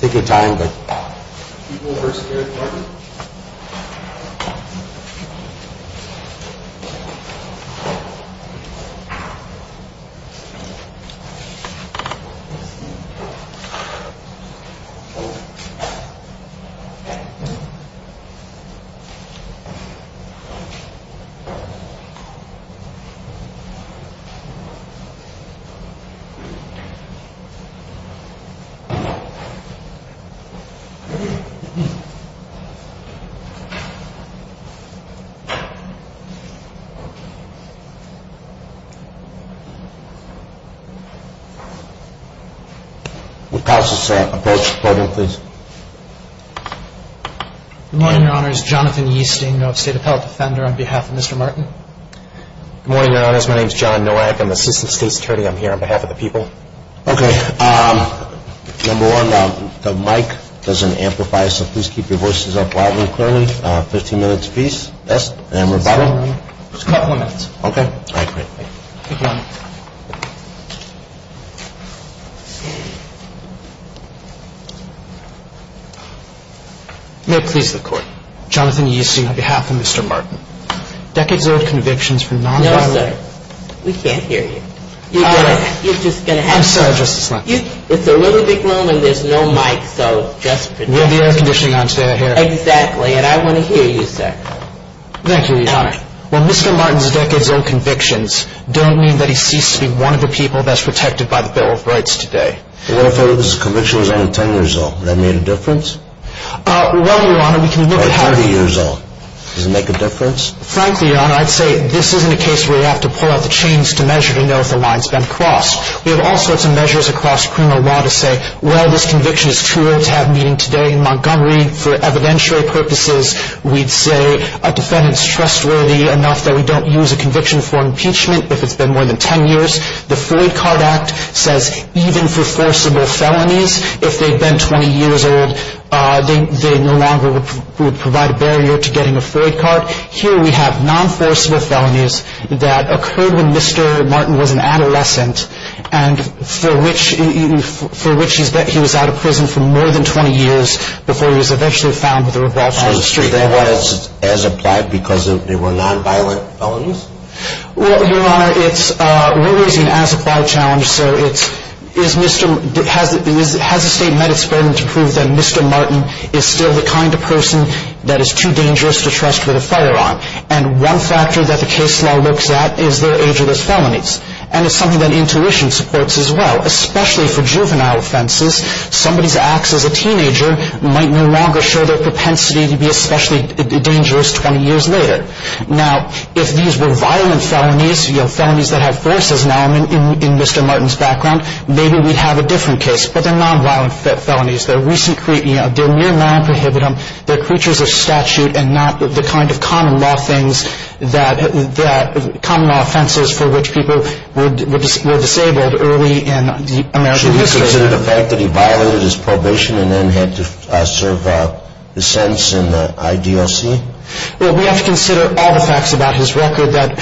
taking time but Okay. Let's pass this approach problem, please. Good morning, your Honors. Jonathan Yeasting, Nova State Appellate Defender, on behalf of Mr. Martin. Good morning, your Honors. My name is John Nowak. I'm the Assistant State Secretary here on behalf of the people. Okay. Number one, the mic doesn't amplify, so please keep your voices up loudly and clearly. Fifteen minutes apiece. Yes, and we're about. Just a couple of minutes. Okay. May it please the Court. Jonathan Yeasting, on behalf of Mr. Martin. Decades old convictions for non-violent. We can't hear you. You're just going to have to. I'm sorry, Justice Lankford. It's a little big room and there's no mic, so just pretend. We have the air conditioning on. Stay right here. Exactly, and I want to hear you, sir. Thank you, your Honor. Well, Mr. Martin's decades old convictions don't mean that he ceased to be one of the people best protected by the Bill of Rights today. What if his conviction was only ten years old? Would that make a difference? Well, your Honor, we can look at how. Or thirty years old. Does it make a difference? Frankly, your Honor, I'd say this isn't a case where you have to pull out the chains to measure to know if the line's been crossed. We have all sorts of measures across criminal law to say, well, this conviction is too old to have meaning today in Montgomery. For evidentiary purposes, we'd say a defendant's trustworthy enough that we don't use a conviction for impeachment if it's been more than ten years. The Floyd Card Act says even for forcible felonies, if they've been twenty years old, they no longer would provide a barrier to getting a Floyd card. Here we have non-forcible felonies that occurred when Mr. Martin was an adolescent, and for which he was out of prison for more than twenty years before he was eventually found with a revolt on the street. So they weren't as applied because they were non-violent felonies? Well, your Honor, we're raising an as-applied challenge. Has the State met its burden to prove that Mr. Martin is still the kind of person that is too dangerous to trust with a firearm? And one factor that the case law looks at is their age of those felonies. And it's something that intuition supports as well. Especially for juvenile offenses, somebody's acts as a teenager might no longer show their propensity to be especially dangerous twenty years later. Now, if these were violent felonies, felonies that have forces now in Mr. Martin's background, maybe we'd have a different case. But they're non-violent felonies. They're mere non-prohibitum. They're creatures of statute and not the kind of common law offenses for which people were disabled early in American history. Should we consider the fact that he violated his probation and then had to serve his sentence in the IDLC? Well, we have to consider all the facts about his record that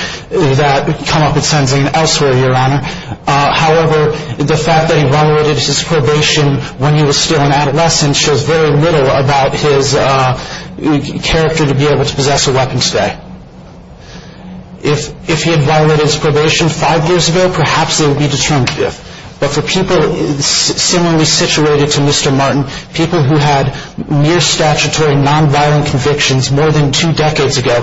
come up in sentencing and elsewhere, your Honor. However, the fact that he violated his probation when he was still an adolescent shows very little about his character to be able to possess a weapon today. If he had violated his probation five years ago, perhaps it would be determinative. But for people similarly situated to Mr. Martin, people who had mere statutory non-violent convictions more than two decades ago,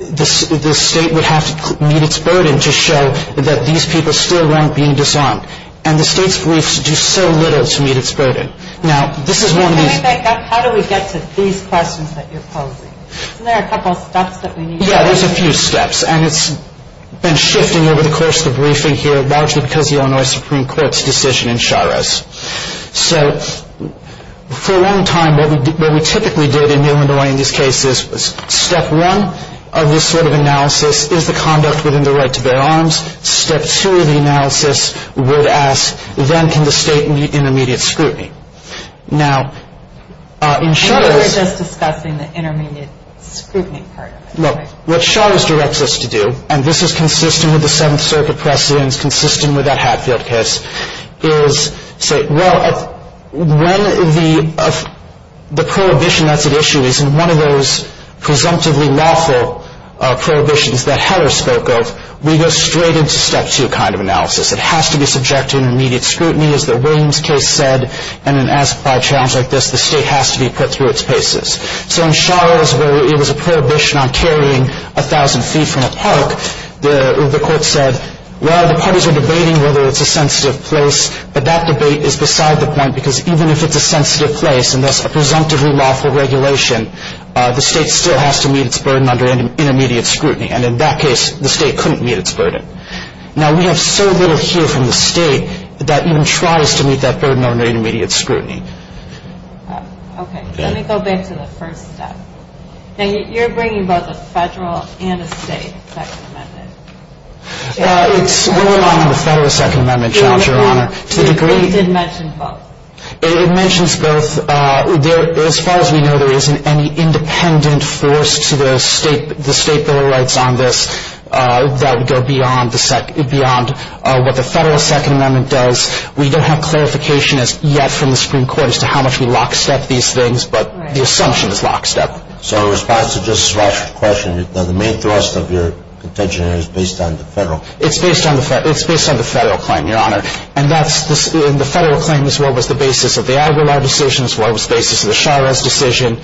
the state would have to meet its burden to show that these people still weren't being disarmed. And the state's briefs do so little to meet its burden. Now, this is one of these... Can I back up? How do we get to these questions that you're posing? Isn't there a couple of steps that we need to take? Yeah, there's a few steps, and it's been shifting over the course of the briefing here, largely because of the Illinois Supreme Court's decision in Sharos. So, for a long time, what we typically did in Illinois in these cases was, step one of this sort of analysis is the conduct within the right to bear arms. Step two of the analysis would ask, when can the state meet intermediate scrutiny? Now, in Sharos... What Sharos directs us to do, and this is consistent with the Seventh Circuit precedents, consistent with that Hatfield case, is say, well, when the prohibition that's at issue is in one of those presumptively lawful prohibitions that Heller spoke of, we go straight into step two kind of analysis. It has to be subject to intermediate scrutiny, as the Williams case said, and in an as-plied challenge like this, the state has to be put through its paces. So in Sharos, where it was a prohibition on carrying a thousand feet from a park, the court said, well, the parties are debating whether it's a sensitive place, but that debate is beside the point, because even if it's a sensitive place, and that's a presumptively lawful regulation, the state still has to meet its burden under intermediate scrutiny, and in that case, the state couldn't meet its burden. Now, we have so little here from the state that that even tries to meet that burden under intermediate scrutiny. Okay. Let me go back to the first step. Now, you're bringing both a Federal and a State Second Amendment. It's what went on in the Federal Second Amendment challenge, Your Honor. We did mention both. It mentions both. As far as we know, there isn't any independent force to the State Bill of Rights on this that would go beyond what the Federal Second Amendment does. We don't have clarification as yet from the Supreme Court as to how much we lockstep these things, but the assumption is lockstep. So in response to Justice Rosha's question, the main thrust of your contention is based on the Federal. It's based on the Federal claim, Your Honor, and the Federal claim is what was the basis of the Aguilar decision, it's what was the basis of the Sharos decision,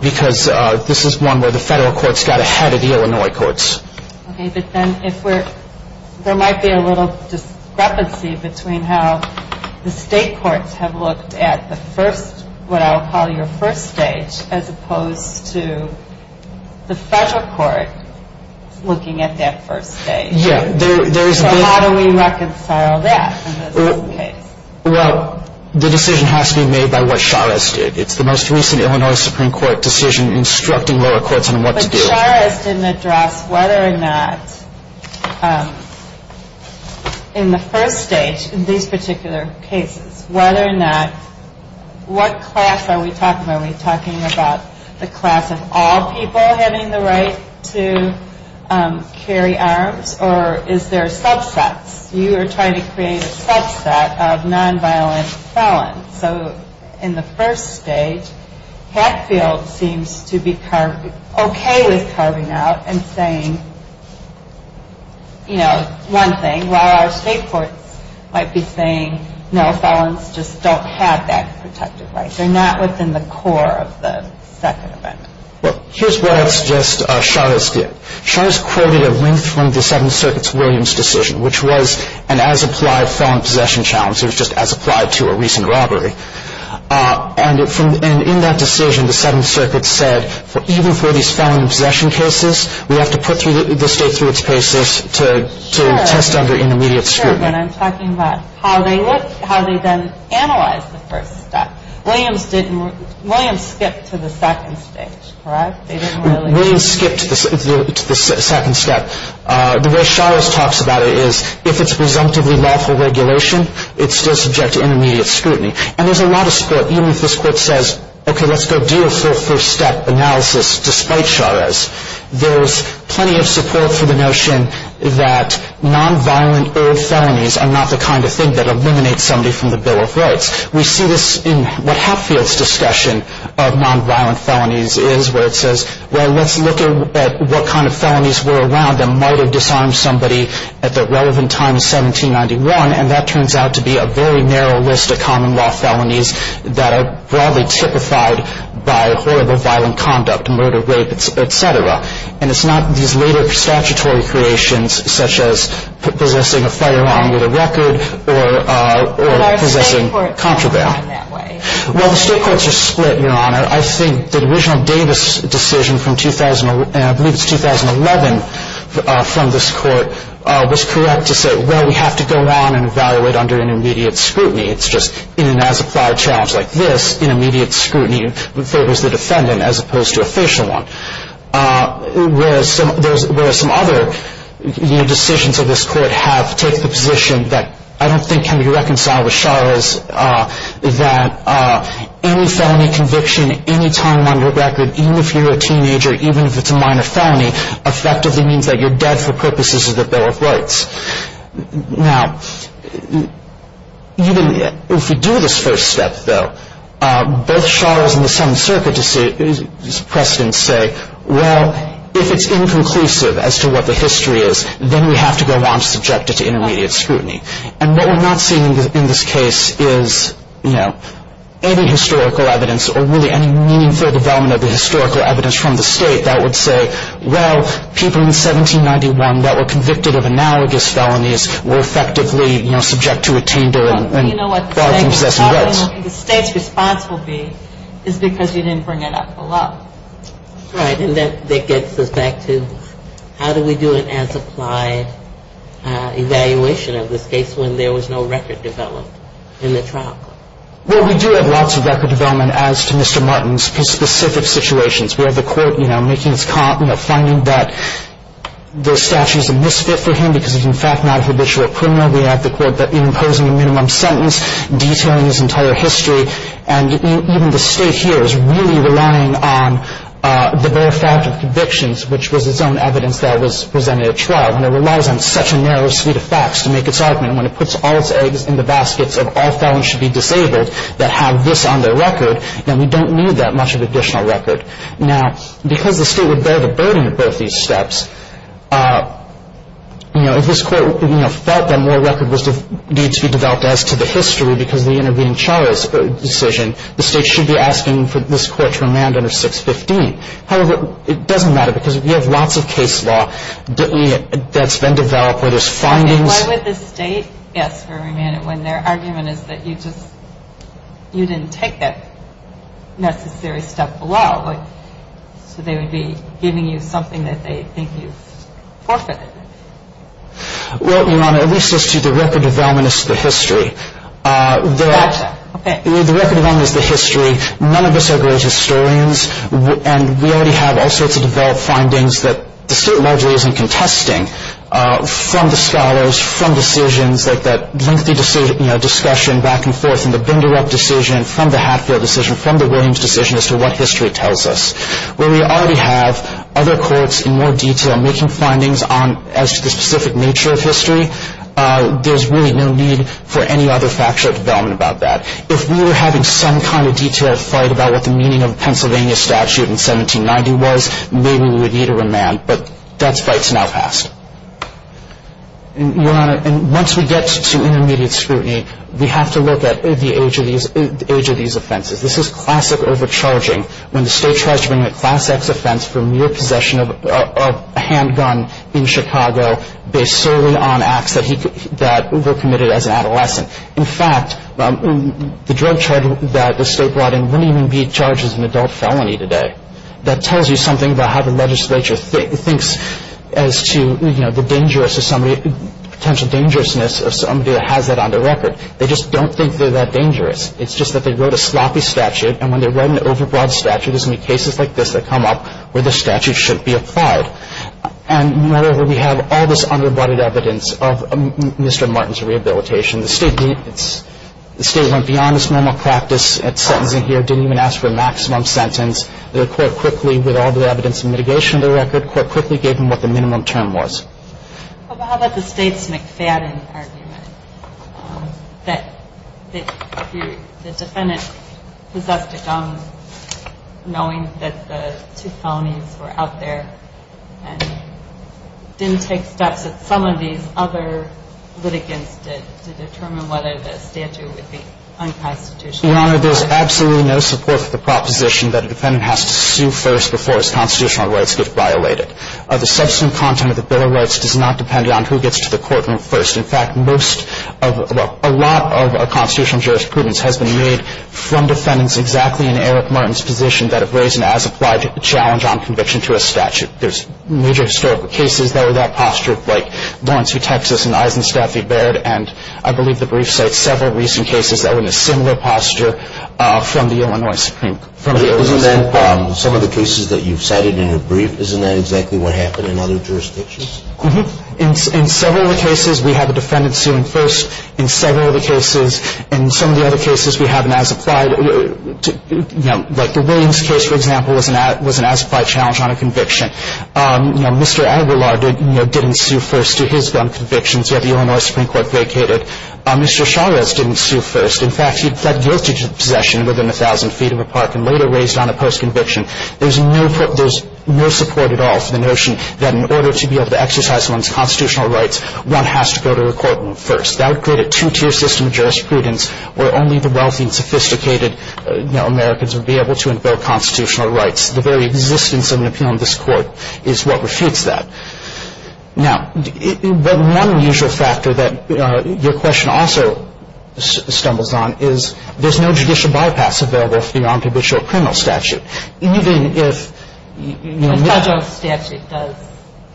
because this is one where the Federal courts got ahead of the Illinois courts. Okay, but then there might be a little discrepancy between how the State courts have looked at the first, what I'll call your first stage, as opposed to the Federal court looking at that first stage. Yeah. So how do we reconcile that in this case? Well, the decision has to be made by what Sharos did. It's the most recent Illinois Supreme Court decision instructing lower courts on what to do. But if Sharos didn't address whether or not in the first stage, in these particular cases, whether or not, what class are we talking about? Are we talking about the class of all people having the right to carry arms, or is there subsets? You are trying to create a subset of nonviolent felons. So in the first stage, Hatfield seems to be okay with carving out and saying, you know, one thing, while our State courts might be saying, no, felons just don't have that protective right. They're not within the core of the second event. Well, here's what I'd suggest Sharos did. Sharos quoted a link from the Seventh Circuit's Williams decision, which was an as-applied felon possession challenge. It was just as applied to a recent robbery. And in that decision, the Seventh Circuit said, even for these felon possession cases, we have to put the State through its paces to test under intermediate scrutiny. Sure, but I'm talking about how they then analyzed the first step. Williams skipped to the second stage, correct? Williams skipped to the second step. The way Sharos talks about it is, if it's presumptively lawful regulation, it's still subject to intermediate scrutiny. And there's a lot of support, even if this court says, okay, let's go do a full first-step analysis, despite Sharos. There's plenty of support for the notion that nonviolent-erred felonies are not the kind of thing that eliminates somebody from the Bill of Rights. We see this in what Hatfield's discussion of nonviolent felonies is, where it says, well, let's look at what kind of felonies were around that might have disarmed somebody at the relevant time in 1791. And that turns out to be a very narrow list of common-law felonies that are broadly typified by horrible violent conduct, murder, rape, et cetera. And it's not these later statutory creations, such as possessing a firearm with a record or possessing contraband. But are state courts common in that way? Well, the state courts are split, Your Honor. I think the original Davis decision from, I believe it's 2011, from this court was correct to say, well, we have to go on and evaluate under intermediate scrutiny. It's just in an as-applied challenge like this, intermediate scrutiny favors the defendant as opposed to a facial one. Whereas some other decisions of this court have taken the position that I don't think can be reconciled with Sharos, that any felony conviction, any time on your record, even if you're a teenager, even if it's a minor felony, effectively means that you're dead for purposes of the Bill of Rights. Now, even if we do this first step, though, both Sharos and the Seventh Circuit's precedents say, well, if it's inconclusive as to what the history is, then we have to go on subjected to intermediate scrutiny. And what we're not seeing in this case is, you know, any historical evidence or really any meaningful development of the historical evidence from the state that would say, well, people in 1791 that were convicted of analogous felonies were effectively, you know, subject to a tender and barred from possessing rights. You know what they say, the state's responsibility is because you didn't bring it up enough. All right, and that gets us back to how do we do an as-applied evaluation of this case when there was no record developed in the trial? Well, we do have lots of record development as to Mr. Martin's specific situations. We have the court, you know, making its finding that the statute is a misfit for him because he's in fact not a habitual criminal. We have the court imposing a minimum sentence, detailing his entire history. And even the state here is really relying on the bare fact of convictions, which was its own evidence that was presented at trial. And it relies on such a narrow suite of facts to make its argument. When it puts all its eggs in the baskets of all felons should be disabled that have this on their record, then we don't need that much of additional record. Now, because the state would bear the burden of both these steps, you know, if this court, you know, felt that more record was due to be developed as to the history because of the intervening charge decision, the state should be asking for this court to remand under 615. However, it doesn't matter because we have lots of case law that's been developed where there's findings. Why would the state ask for a remand when their argument is that you just, you didn't take that necessary step below? So they would be giving you something that they think you've forfeited. Well, Your Honor, at least as to the record development as to the history, the record development as to the history, none of us are great historians, and we already have all sorts of developed findings that the state largely isn't contesting from the scholars, from decisions like that lengthy discussion back and forth in the Binderup decision, from the Hatfield decision, from the Williams decision as to what history tells us. Where we already have other courts in more detail making findings as to the specific nature of history, there's really no need for any other factual development about that. If we were having some kind of detailed fight about what the meaning of the Pennsylvania statute in 1790 was, maybe we would need a remand, but that fight's now passed. And, Your Honor, once we get to intermediate scrutiny, we have to look at the age of these offenses. This is classic overcharging when the state tries to bring a Class X offense for mere possession of a handgun in Chicago based solely on acts that were committed as an adolescent. In fact, the drug charge that the state brought in wouldn't even be charged as an adult felony today. That tells you something about how the legislature thinks as to, you know, the potential dangerousness of somebody that has that on their record. They just don't think they're that dangerous. It's just that they wrote a sloppy statute, and when they write an overbroad statute, there's going to be cases like this that come up where the statute shouldn't be applied. And, moreover, we have all this underbutted evidence of Mr. Martin's rehabilitation. The state went beyond its normal practice at sentencing here, didn't even ask for a maximum sentence. The court quickly, with all the evidence and mitigation of the record, the court quickly gave him what the minimum term was. How about the State's McFadden argument that the defendant possessed a gun knowing that the two felonies were out there and didn't take steps that some of these other litigants did to determine whether the statute would be unconstitutional? Your Honor, there's absolutely no support for the proposition that a defendant has to sue first before his constitutional rights get violated. The subsequent content of the Bill of Rights does not depend on who gets to the courtroom first. In fact, a lot of our constitutional jurisprudence has been made from defendants exactly in Eric Martin's position that have raised an as-applied challenge on conviction to a statute. There's major historical cases that were that posture, like Lawrence v. Texas and Eisenstaff v. Baird, and I believe the brief cites several recent cases that were in a similar posture from the Illinois Supreme Court. Isn't that some of the cases that you've cited in your brief? Isn't that exactly what happened in other jurisdictions? In several of the cases, we have a defendant suing first. In several of the cases, in some of the other cases, we have an as-applied, you know, like the Williams case, for example, was an as-applied challenge on a conviction. You know, Mr. Aguilar didn't sue first to his gun convictions, yet the Illinois Supreme Court vacated. Mr. Chavez didn't sue first. In fact, he pled guilty to possession within 1,000 feet of a park and later raised on a post-conviction. There's no support at all for the notion that in order to be able to exercise one's constitutional rights, one has to go to a court first. That would create a two-tier system of jurisprudence where only the wealthy and sophisticated, you know, Americans would be able to invoke constitutional rights. The very existence of an appeal in this Court is what refutes that. Now, one unusual factor that your question also stumbles on is there's no judicial bypass available for the non-cabitual criminal statute. Even if, you know, The federal statute does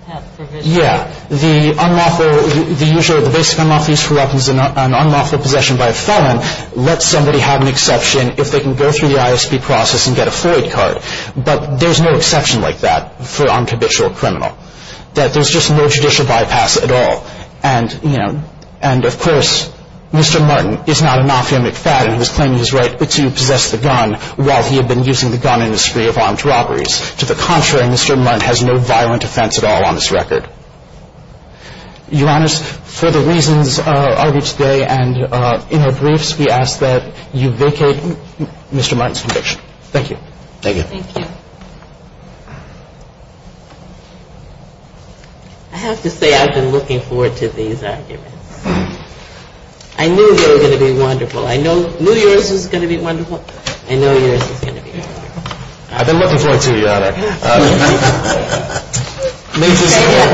have provisions. Yeah. The unlawful, the usual, the basic unlawful use for weapons and unlawful possession by a felon lets somebody have an exception if they can go through the ISP process and get a Floyd card. But there's no exception like that for a non-cabitual criminal. That there's just no judicial bypass at all. And, you know, and of course, Mr. Martin is not a non-femic fat and he was claiming his right to possess the gun while he had been using the gun in a spree of armed robberies. To the contrary, Mr. Martin has no violent offense at all on this record. Your Honors, for the reasons argued today and in our briefs, we ask that you vacate Mr. Martin's conviction. Thank you. Thank you. I have to say I've been looking forward to these arguments. I knew they were going to be wonderful. I know New Year's is going to be wonderful. I know New Year's is going to be wonderful. I've been looking forward to it, Your Honor. May it please the court.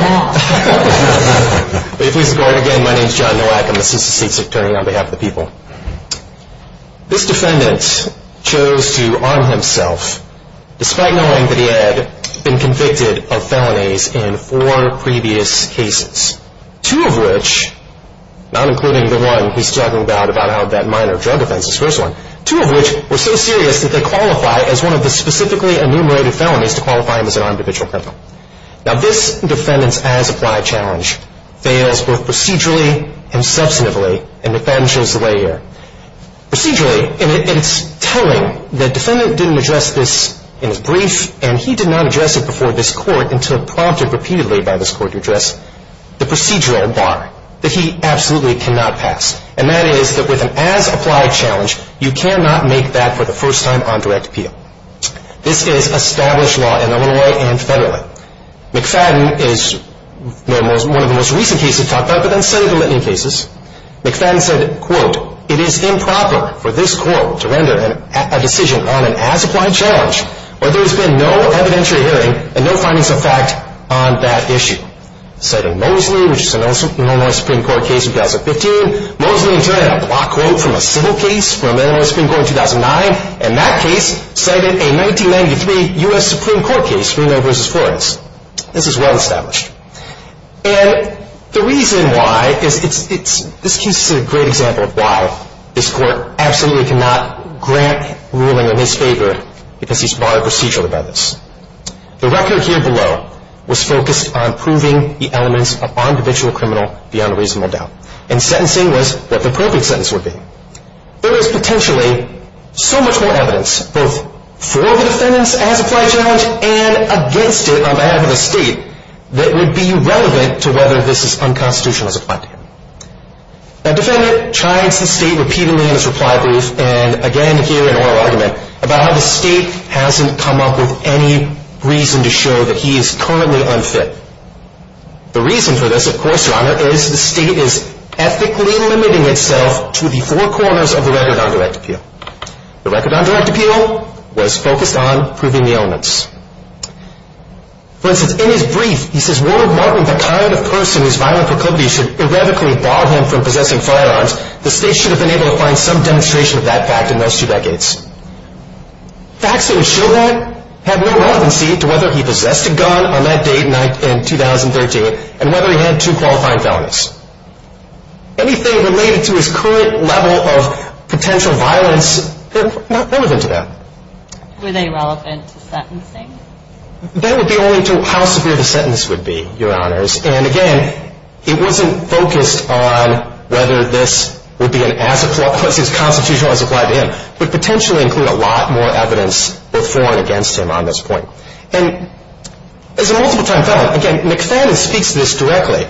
May it please the court. Again, my name is John Nowak. I'm an assistant state's attorney on behalf of the people. This defendant chose to arm himself despite knowing that he had been convicted of felonies in four previous cases, two of which, not including the one he's talking about, about how that minor drug offense is first one, two of which were so serious that they qualify as one of the specifically enumerated felonies to qualify him as an armed habitual criminal. Now, this defendant's as-applied challenge fails both procedurally and substantively in McFadden's layer. Procedurally, and it's telling, the defendant didn't address this in his brief, and he did not address it before this court until prompted repeatedly by this court to address the procedural bar that he absolutely cannot pass, and that is that with an as-applied challenge, you cannot make that for the first time on direct appeal. This is established law in Illinois and federally. McFadden is one of the most recent cases talked about, but then several litany of cases. McFadden said, quote, it is improper for this court to render a decision on an as-applied challenge where there has been no evidentiary hearing and no findings of fact on that issue. Citing Mosley, which is an Illinois Supreme Court case in 2015, Mosley interred a block quote from a civil case from Illinois Supreme Court in 2009, and that case cited a 1993 U.S. Supreme Court case, Reno v. Flores. This is well established. And the reason why is this case is a great example of why this court absolutely cannot grant ruling in his favor because he's barred procedurally by this. The record here below was focused on proving the elements of on-judicial criminal beyond a reasonable doubt, and sentencing was what the perfect sentence would be. There is potentially so much more evidence, both for the defendant's as-applied challenge and against it on behalf of the state, that would be relevant to whether this is unconstitutional as applied to him. The defendant chides the state repeatedly in his reply brief, and again here in oral argument, about how the state hasn't come up with any reason to show that he is currently unfit. The reason for this, of course, Your Honor, is the state is ethically limiting itself to the four corners of the record on direct appeal. The record on direct appeal was focused on proving the elements. For instance, in his brief, he says, Warren Martin, the kind of person whose violent proclivities should erratically bar him from possessing firearms, the state should have been able to find some demonstration of that fact in those two decades. Facts that would show that have no relevancy to whether he possessed a gun on that date in 2013, and whether he had two qualifying felonies. Anything related to his current level of potential violence, not relevant to that. Were they relevant to sentencing? That would be only to how severe the sentence would be, Your Honors, and again, it wasn't focused on whether this would be as constitutional as applied to him, but potentially include a lot more evidence before and against him on this point. And as a multiple time felon, again, McFadden speaks to this directly.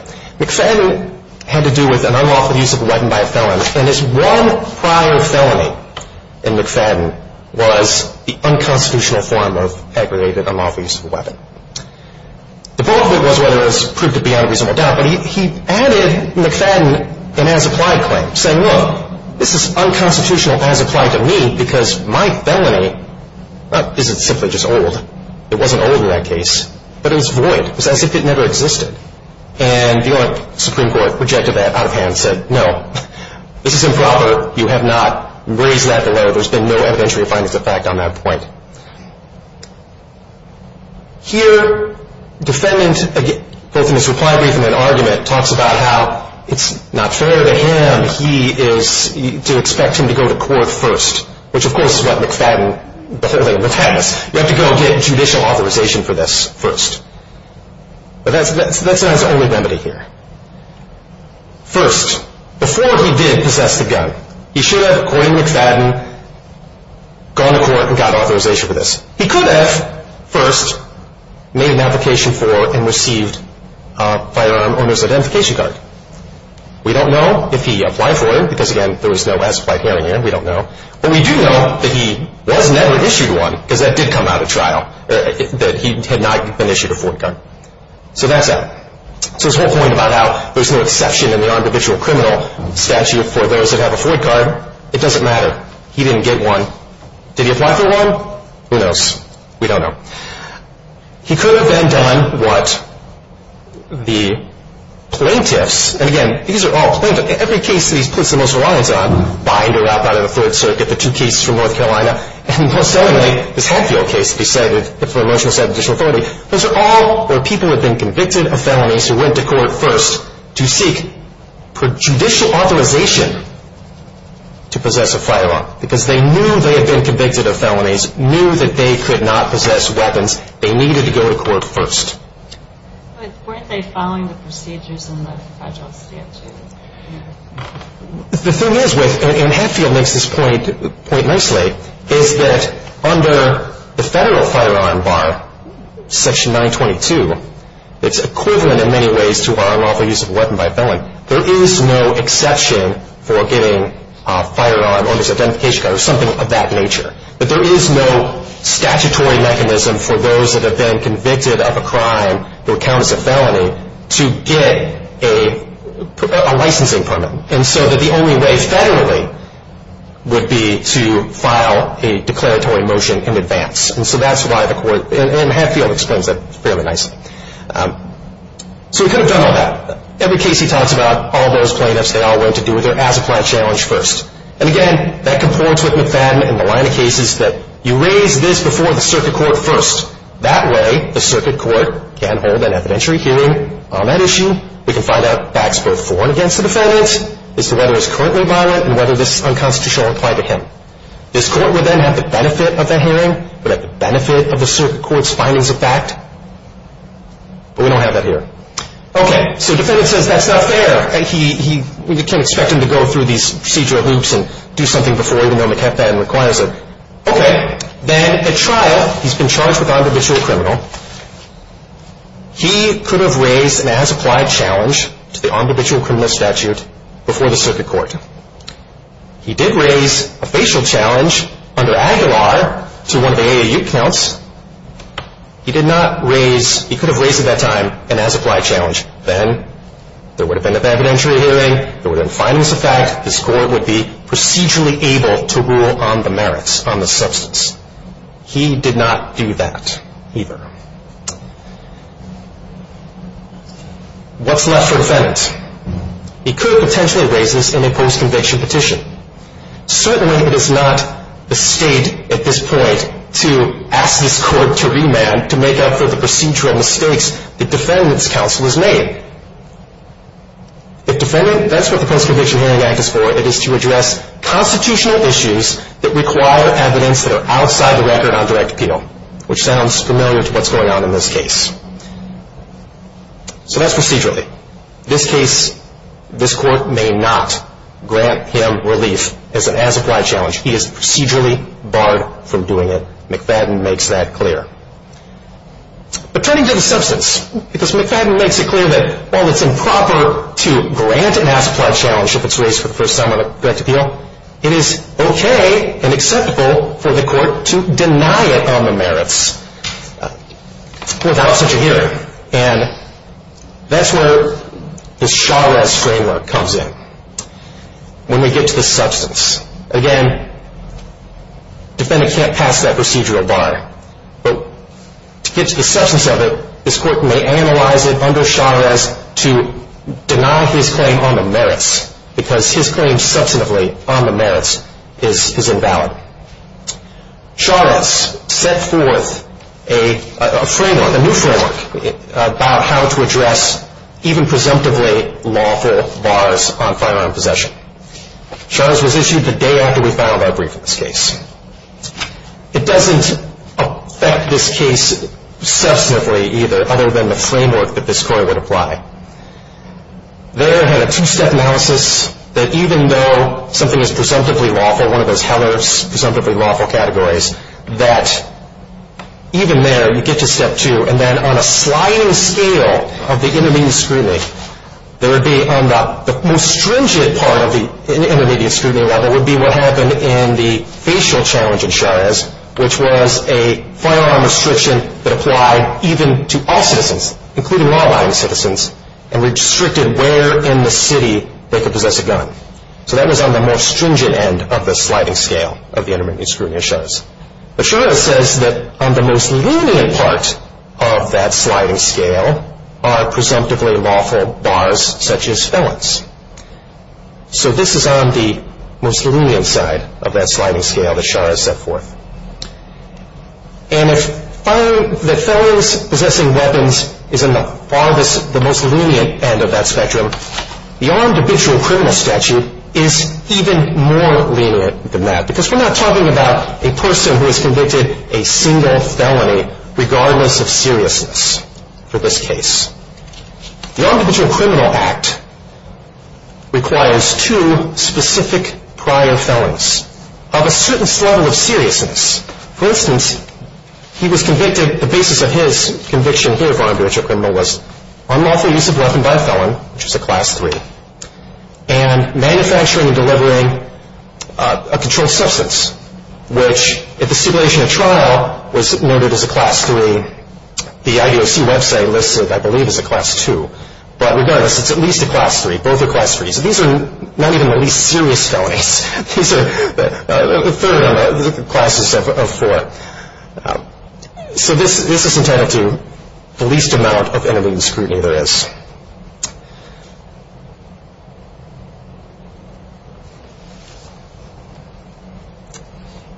McFadden had to do with an unlawful use of a weapon by a felon, and his one prior felony in McFadden was the unconstitutional form of aggravated unlawful use of a weapon. The bulk of it was whether it was proved to be unreasonable doubt, but he added McFadden an as-applied claim, saying, look, this is unconstitutional as applied to me because my felony isn't simply just old. It wasn't old in that case, but it was void. It was as if it never existed. And the Supreme Court rejected that out of hand and said, no, this is improper. You have not raised that below. There's been no evidentiary findings of fact on that point. Here, defendant, both in his reply brief and in an argument, talks about how it's not fair to him to expect him to go to court first, which, of course, is what McFadden, the whole thing, protects. You have to go get judicial authorization for this first. But that's not his only remedy here. First, before he did possess the gun, he should have, according to McFadden, gone to court and got authorization for this. He could have first made an application for and received a firearm owner's identification card. We don't know if he applied for it because, again, there was no as-applied hearing here. We don't know. But we do know that he was never issued one because that did come out of trial, that he had not been issued a foreign gun. So that's that. So this whole point about how there's no exception in the individual criminal statute for those that have a foreign card, it doesn't matter. He didn't get one. Did he apply for one? Who knows? We don't know. He could have then done what the plaintiffs, and, again, these are all plaintiffs. Every case that he puts the most reliance on, bind or wrap out of the Third Circuit, the two cases from North Carolina, and, most certainly, this Hadfield case, decided for a motion to set additional authority, those are all where people have been convicted of felonies who went to court first to seek judicial authorization to possess a firearm because they knew they had been convicted of felonies, knew that they could not possess weapons. They needed to go to court first. But weren't they following the procedures in the federal statute? The thing is with, and Hadfield makes this point nicely, is that under the federal firearm bar, Section 922, it's equivalent in many ways to our unlawful use of a weapon by a felon. There is no exception for getting a firearm under identification card or something of that nature. But there is no statutory mechanism for those that have been convicted of a crime or count as a felony to get a licensing permit. And so that the only way federally would be to file a declaratory motion in advance. And so that's why the court, and Hadfield explains that fairly nicely. So we could have done all that. Every case he talks about, all those plaintiffs, they all went to do their as-applied challenge first. And, again, that comports with McFadden in the line of cases that you raise this before the circuit court first. That way, the circuit court can hold an evidentiary hearing on that issue. We can find out facts both for and against the defendant, as to whether it's currently violent and whether this is unconstitutional or applied to him. This court would then have the benefit of that hearing, would have the benefit of the circuit court's findings of fact. But we don't have that here. Okay, so the defendant says that's not fair. We can't expect him to go through these procedural loops and do something before, even though McFadden requires it. Okay. Then at trial, he's been charged with on-divisional criminal. He could have raised an as-applied challenge to the on-divisional criminal statute before the circuit court. He did raise a facial challenge under Aguilar to one of the AAU counts. He did not raise, he could have raised at that time, an as-applied challenge. Then there would have been an evidentiary hearing. There would have been findings of fact. This court would be procedurally able to rule on the merits, on the substance. He did not do that either. What's left for defendants? He could potentially raise this in a post-conviction petition. Certainly, it is not the state at this point to ask this court to remand, to make up for the procedural mistakes the defendant's counsel has made. If defendant, that's what the Post-Conviction Hearing Act is for. It is to address constitutional issues that require evidence that are outside the record on direct penal, which sounds familiar to what's going on in this case. So that's procedurally. This case, this court may not grant him relief as an as-applied challenge. He is procedurally barred from doing it. McFadden makes that clear. But turning to the substance, because McFadden makes it clear that while it's improper to grant an as-applied challenge if it's raised for the first time on a direct appeal, it is okay and acceptable for the court to deny it on the merits without such a hearing. And that's where this Chavez framework comes in when we get to the substance. Again, defendant can't pass that procedural bar. But to get to the substance of it, this court may analyze it under Chavez to deny his claim on the merits, because his claim substantively on the merits is invalid. Chavez set forth a framework, a new framework, about how to address even presumptively lawful bars on firearm possession. Chavez was issued the day after we filed our brief in this case. It doesn't affect this case substantively either, other than the framework that this court would apply. There had a two-step analysis that even though something is presumptively lawful, one of those Heller's presumptively lawful categories, that even there you get to step two. And then on a sliding scale of the intermediate scrutiny, there would be on the most stringent part of the intermediate scrutiny level would be what happened in the facial challenge in Chavez, which was a firearm restriction that applied even to all citizens, including law-abiding citizens, and restricted where in the city they could possess a gun. So that was on the most stringent end of the sliding scale of the intermediate scrutiny of Chavez. But Chavez says that on the most lenient part of that sliding scale are presumptively lawful bars such as felons. So this is on the most lenient side of that sliding scale that Shah has set forth. And if the felons possessing weapons is on the most lenient end of that spectrum, the armed habitual criminal statute is even more lenient than that because we're not talking about a person who has convicted a single felony regardless of seriousness for this case. The armed habitual criminal act requires two specific prior felons of a certain level of seriousness. For instance, he was convicted, the basis of his conviction here of armed habitual criminal was unlawful use of a weapon by a felon, which was a class three, and manufacturing and delivering a controlled substance, which at the stipulation of trial was noted as a class three. The IDOC website lists it, I believe, as a class two. But regardless, it's at least a class three. Both are class threes. These are not even the least serious felonies. These are a third of the classes of four. So this is entitled to the least amount of intermediate scrutiny there is.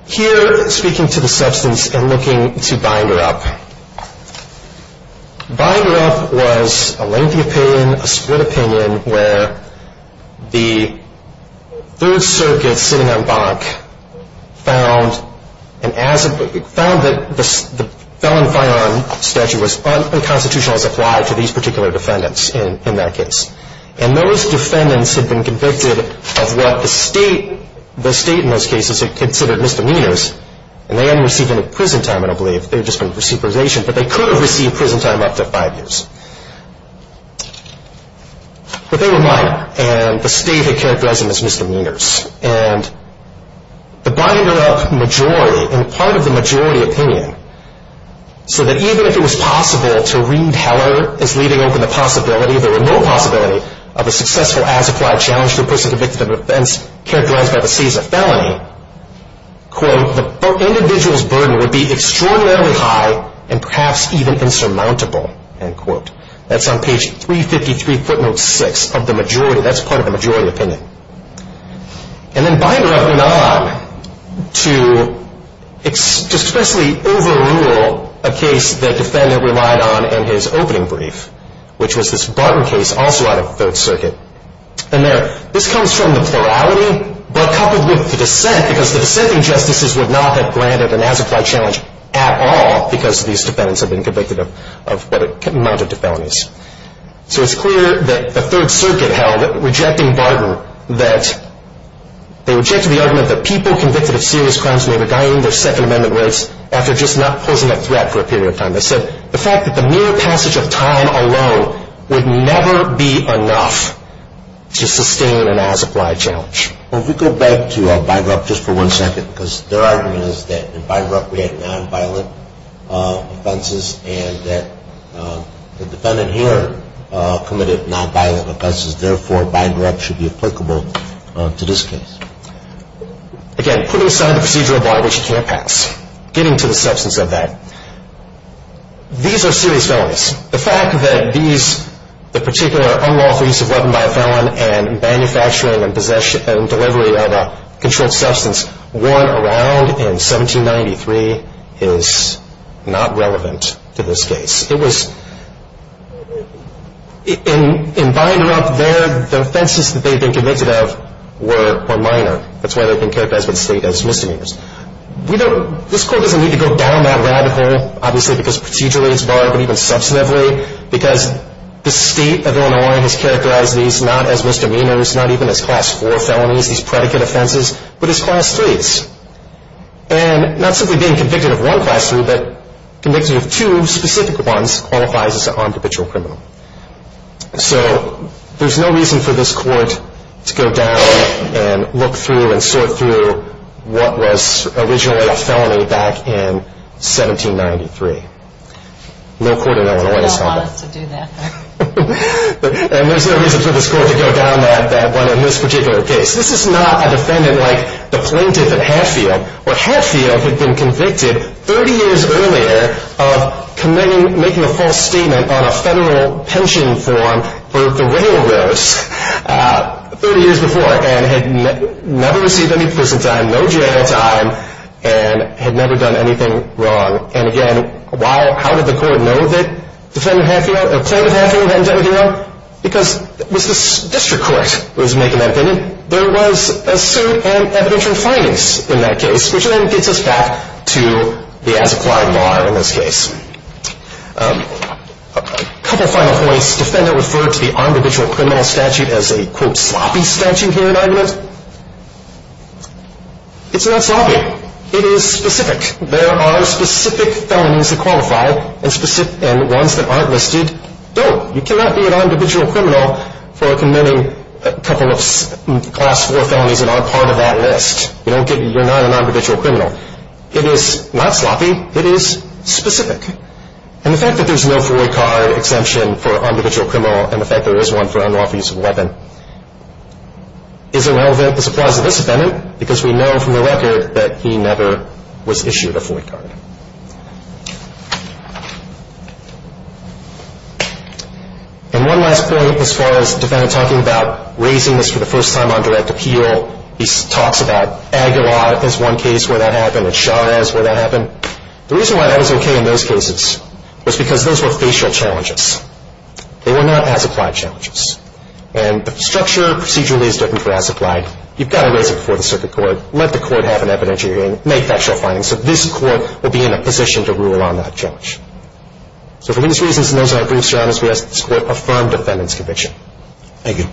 Here, speaking to the substance and looking to binder up, binder up was a lengthy opinion, a split opinion, where the third circuit sitting on bonk found that the felon firearm statute was unconstitutional as applied to these particular defendants in that case. And those defendants had been convicted of what the state, the state in those cases had considered misdemeanors, and they hadn't received any prison time, I don't believe. They had just been for supervision. But they could have received prison time up to five years. But they were minor, and the state had characterized them as misdemeanors. And the binder up majority, and part of the majority opinion, so that even if it was possible to read Heller as leaving open the possibility, the remote possibility of a successful as-applied challenge to a person convicted of an offense characterized by the state as a felony, quote, the individual's burden would be extraordinarily high and perhaps even insurmountable, end quote. That's on page 353, footnote six of the majority. That's part of the majority opinion. And then binder up none to expressly overrule a case that defendant relied on in his opening brief, which was this Barton case also out of Third Circuit. And this comes from the plurality, but coupled with the dissent, because the dissenting justices would not have granted an as-applied challenge at all because these defendants had been convicted of what amounted to felonies. So it's clear that the Third Circuit held, rejecting Barton, that they rejected the argument that people convicted of serious crimes may be dying their Second Amendment rights after just not posing a threat for a period of time. They said the fact that the mere passage of time alone would never be enough to sustain an as-applied challenge. Well, if we go back to binder up just for one second, because their argument is that in binder up we had nonviolent offenses and that the defendant here committed nonviolent offenses, therefore binder up should be applicable to this case. Again, putting aside the procedural bar which can't pass, getting to the substance of that. These are serious felonies. The fact that these, the particular unlawful use of weapon by a felon and manufacturing and delivery of a controlled substance worn around in 1793 is not relevant to this case. It was, in binder up there, the offenses that they'd been convicted of were minor. That's why they've been characterized by the state as misdemeanors. We don't, this court doesn't need to go down that rabbit hole, obviously because procedurally it's barred, but even substantively, because the state of Illinois has characterized these not as misdemeanors, not even as class four felonies, these predicate offenses, but as class threes, and not simply being convicted of one class three, but convicted of two specific ones qualifies as an armed habitual criminal. So there's no reason for this court to go down and look through and sort through what was originally a felony back in 1793. No court in Illinois has done that. That's why they don't want us to do that. And there's no reason for this court to go down that one in this particular case. This is not a defendant like the plaintiff at Hatfield, where Hatfield had been convicted 30 years earlier of committing, making a false statement on a federal pension form for the railroads 30 years before, and had never received any prison time, no jail time, and had never done anything wrong. And again, how did the court know that defendant Hatfield, plaintiff Hatfield hadn't done anything wrong? Because it was the district court that was making that opinion. There was a suit and evidentiary finance in that case, which then gets us back to the as-applied law in this case. A couple of final points. Defendant referred to the armed habitual criminal statute as a, quote, sloppy statute here in argument. It's not sloppy. It is specific. There are specific felonies that qualify, and ones that aren't listed don't. You cannot be an armed habitual criminal for committing a couple of Class IV felonies that aren't part of that list. You're not an armed habitual criminal. It is not sloppy. It is specific. And the fact that there's no FOIA card exemption for armed habitual criminal, and the fact there is one for unlawful use of a weapon, isn't relevant to the supplies of this defendant, because we know from the record that he never was issued a FOIA card. And one last point as far as the defendant talking about raising this for the first time on direct appeal. He talks about Aguilar as one case where that happened, and Chavez where that happened. The reason why that was okay in those cases was because those were facial challenges. They were not as-applied challenges. And the structure procedurally is different for as-applied. You've got to raise it before the circuit court. Let the court have an evidentiary hearing. Make factual findings. So this court will be in a position to rule on that judge. So for these reasons, and those are our brief surroundings, we ask that this court affirm defendant's conviction. Thank you.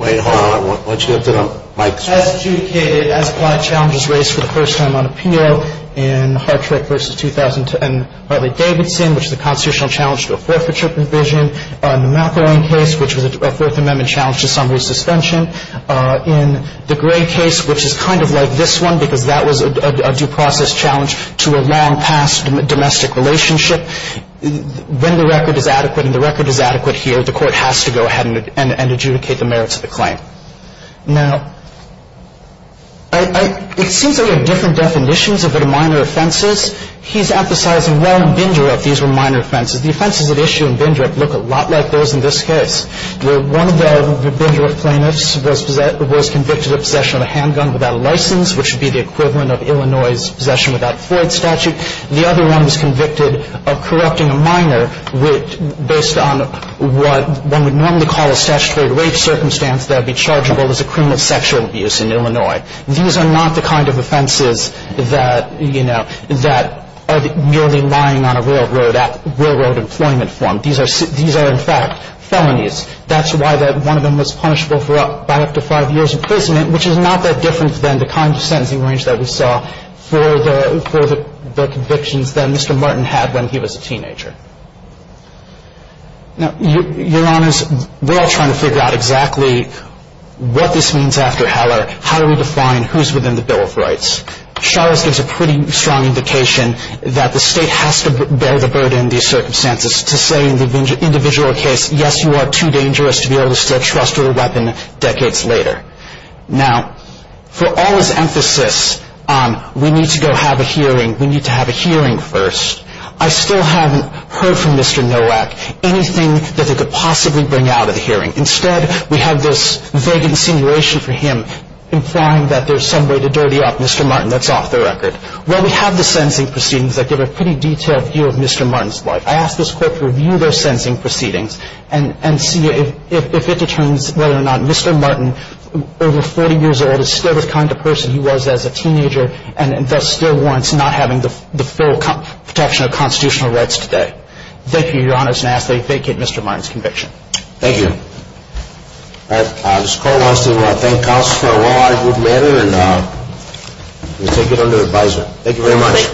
Wait, hold on. Why don't you lift it up? Mike. As adjudicated, as-applied challenges raised for the first time on appeal in Hartrick v. Davidson, which is a constitutional challenge to a forfeiture provision. In the McElwain case, which was a Fourth Amendment challenge to summary suspension. In the Gray case, which is kind of like this one, because that was a due process challenge to a long-past domestic relationship. When the record is adequate and the record is adequate here, the court has to go ahead and adjudicate the merits of the claim. Now, it seems that we have different definitions of what a minor offense is. He's emphasizing well in Bindra that these were minor offenses. The offenses at issue in Bindra look a lot like those in this case, where one of the Bindra plaintiffs was convicted of possession of a handgun without a license, which would be the equivalent of Illinois' possession without a Floyd statute. The other one was convicted of corrupting a minor based on what one would normally call a statutory rape circumstance that would be chargeable as a criminal sexual abuse in Illinois. These are not the kind of offenses that, you know, that are merely lying on a railroad at railroad employment form. These are in fact felonies. That's why one of them was punishable for up to five years in prison, which is not that different than the kind of sentencing range that we saw for the convictions that Mr. Martin had when he was a teenager. Now, Your Honors, we're all trying to figure out exactly what this means after Heller. How do we define who's within the Bill of Rights? Charles gives a pretty strong indication that the state has to bear the burden of these circumstances to say in the individual case, yes, you are too dangerous to be able to still trust with a weapon decades later. Now, for all his emphasis on we need to go have a hearing, we need to have a hearing first, I still haven't heard from Mr. Nowak anything that they could possibly bring out of the hearing. Instead, we have this vague insinuation for him implying that there's some way to dirty up Mr. Martin. That's off the record. Well, we have the sentencing proceedings that give a pretty detailed view of Mr. Martin's life. I ask this Court to review those sentencing proceedings and see if it determines whether or not Mr. Martin, over 40 years old, is still the kind of person he was as a teenager and thus still warrants not having the full protection of constitutional rights today. Thank you. Thank you. All right. This Court wants to thank counsel for a very good matter and we take it under advisement. Thank you.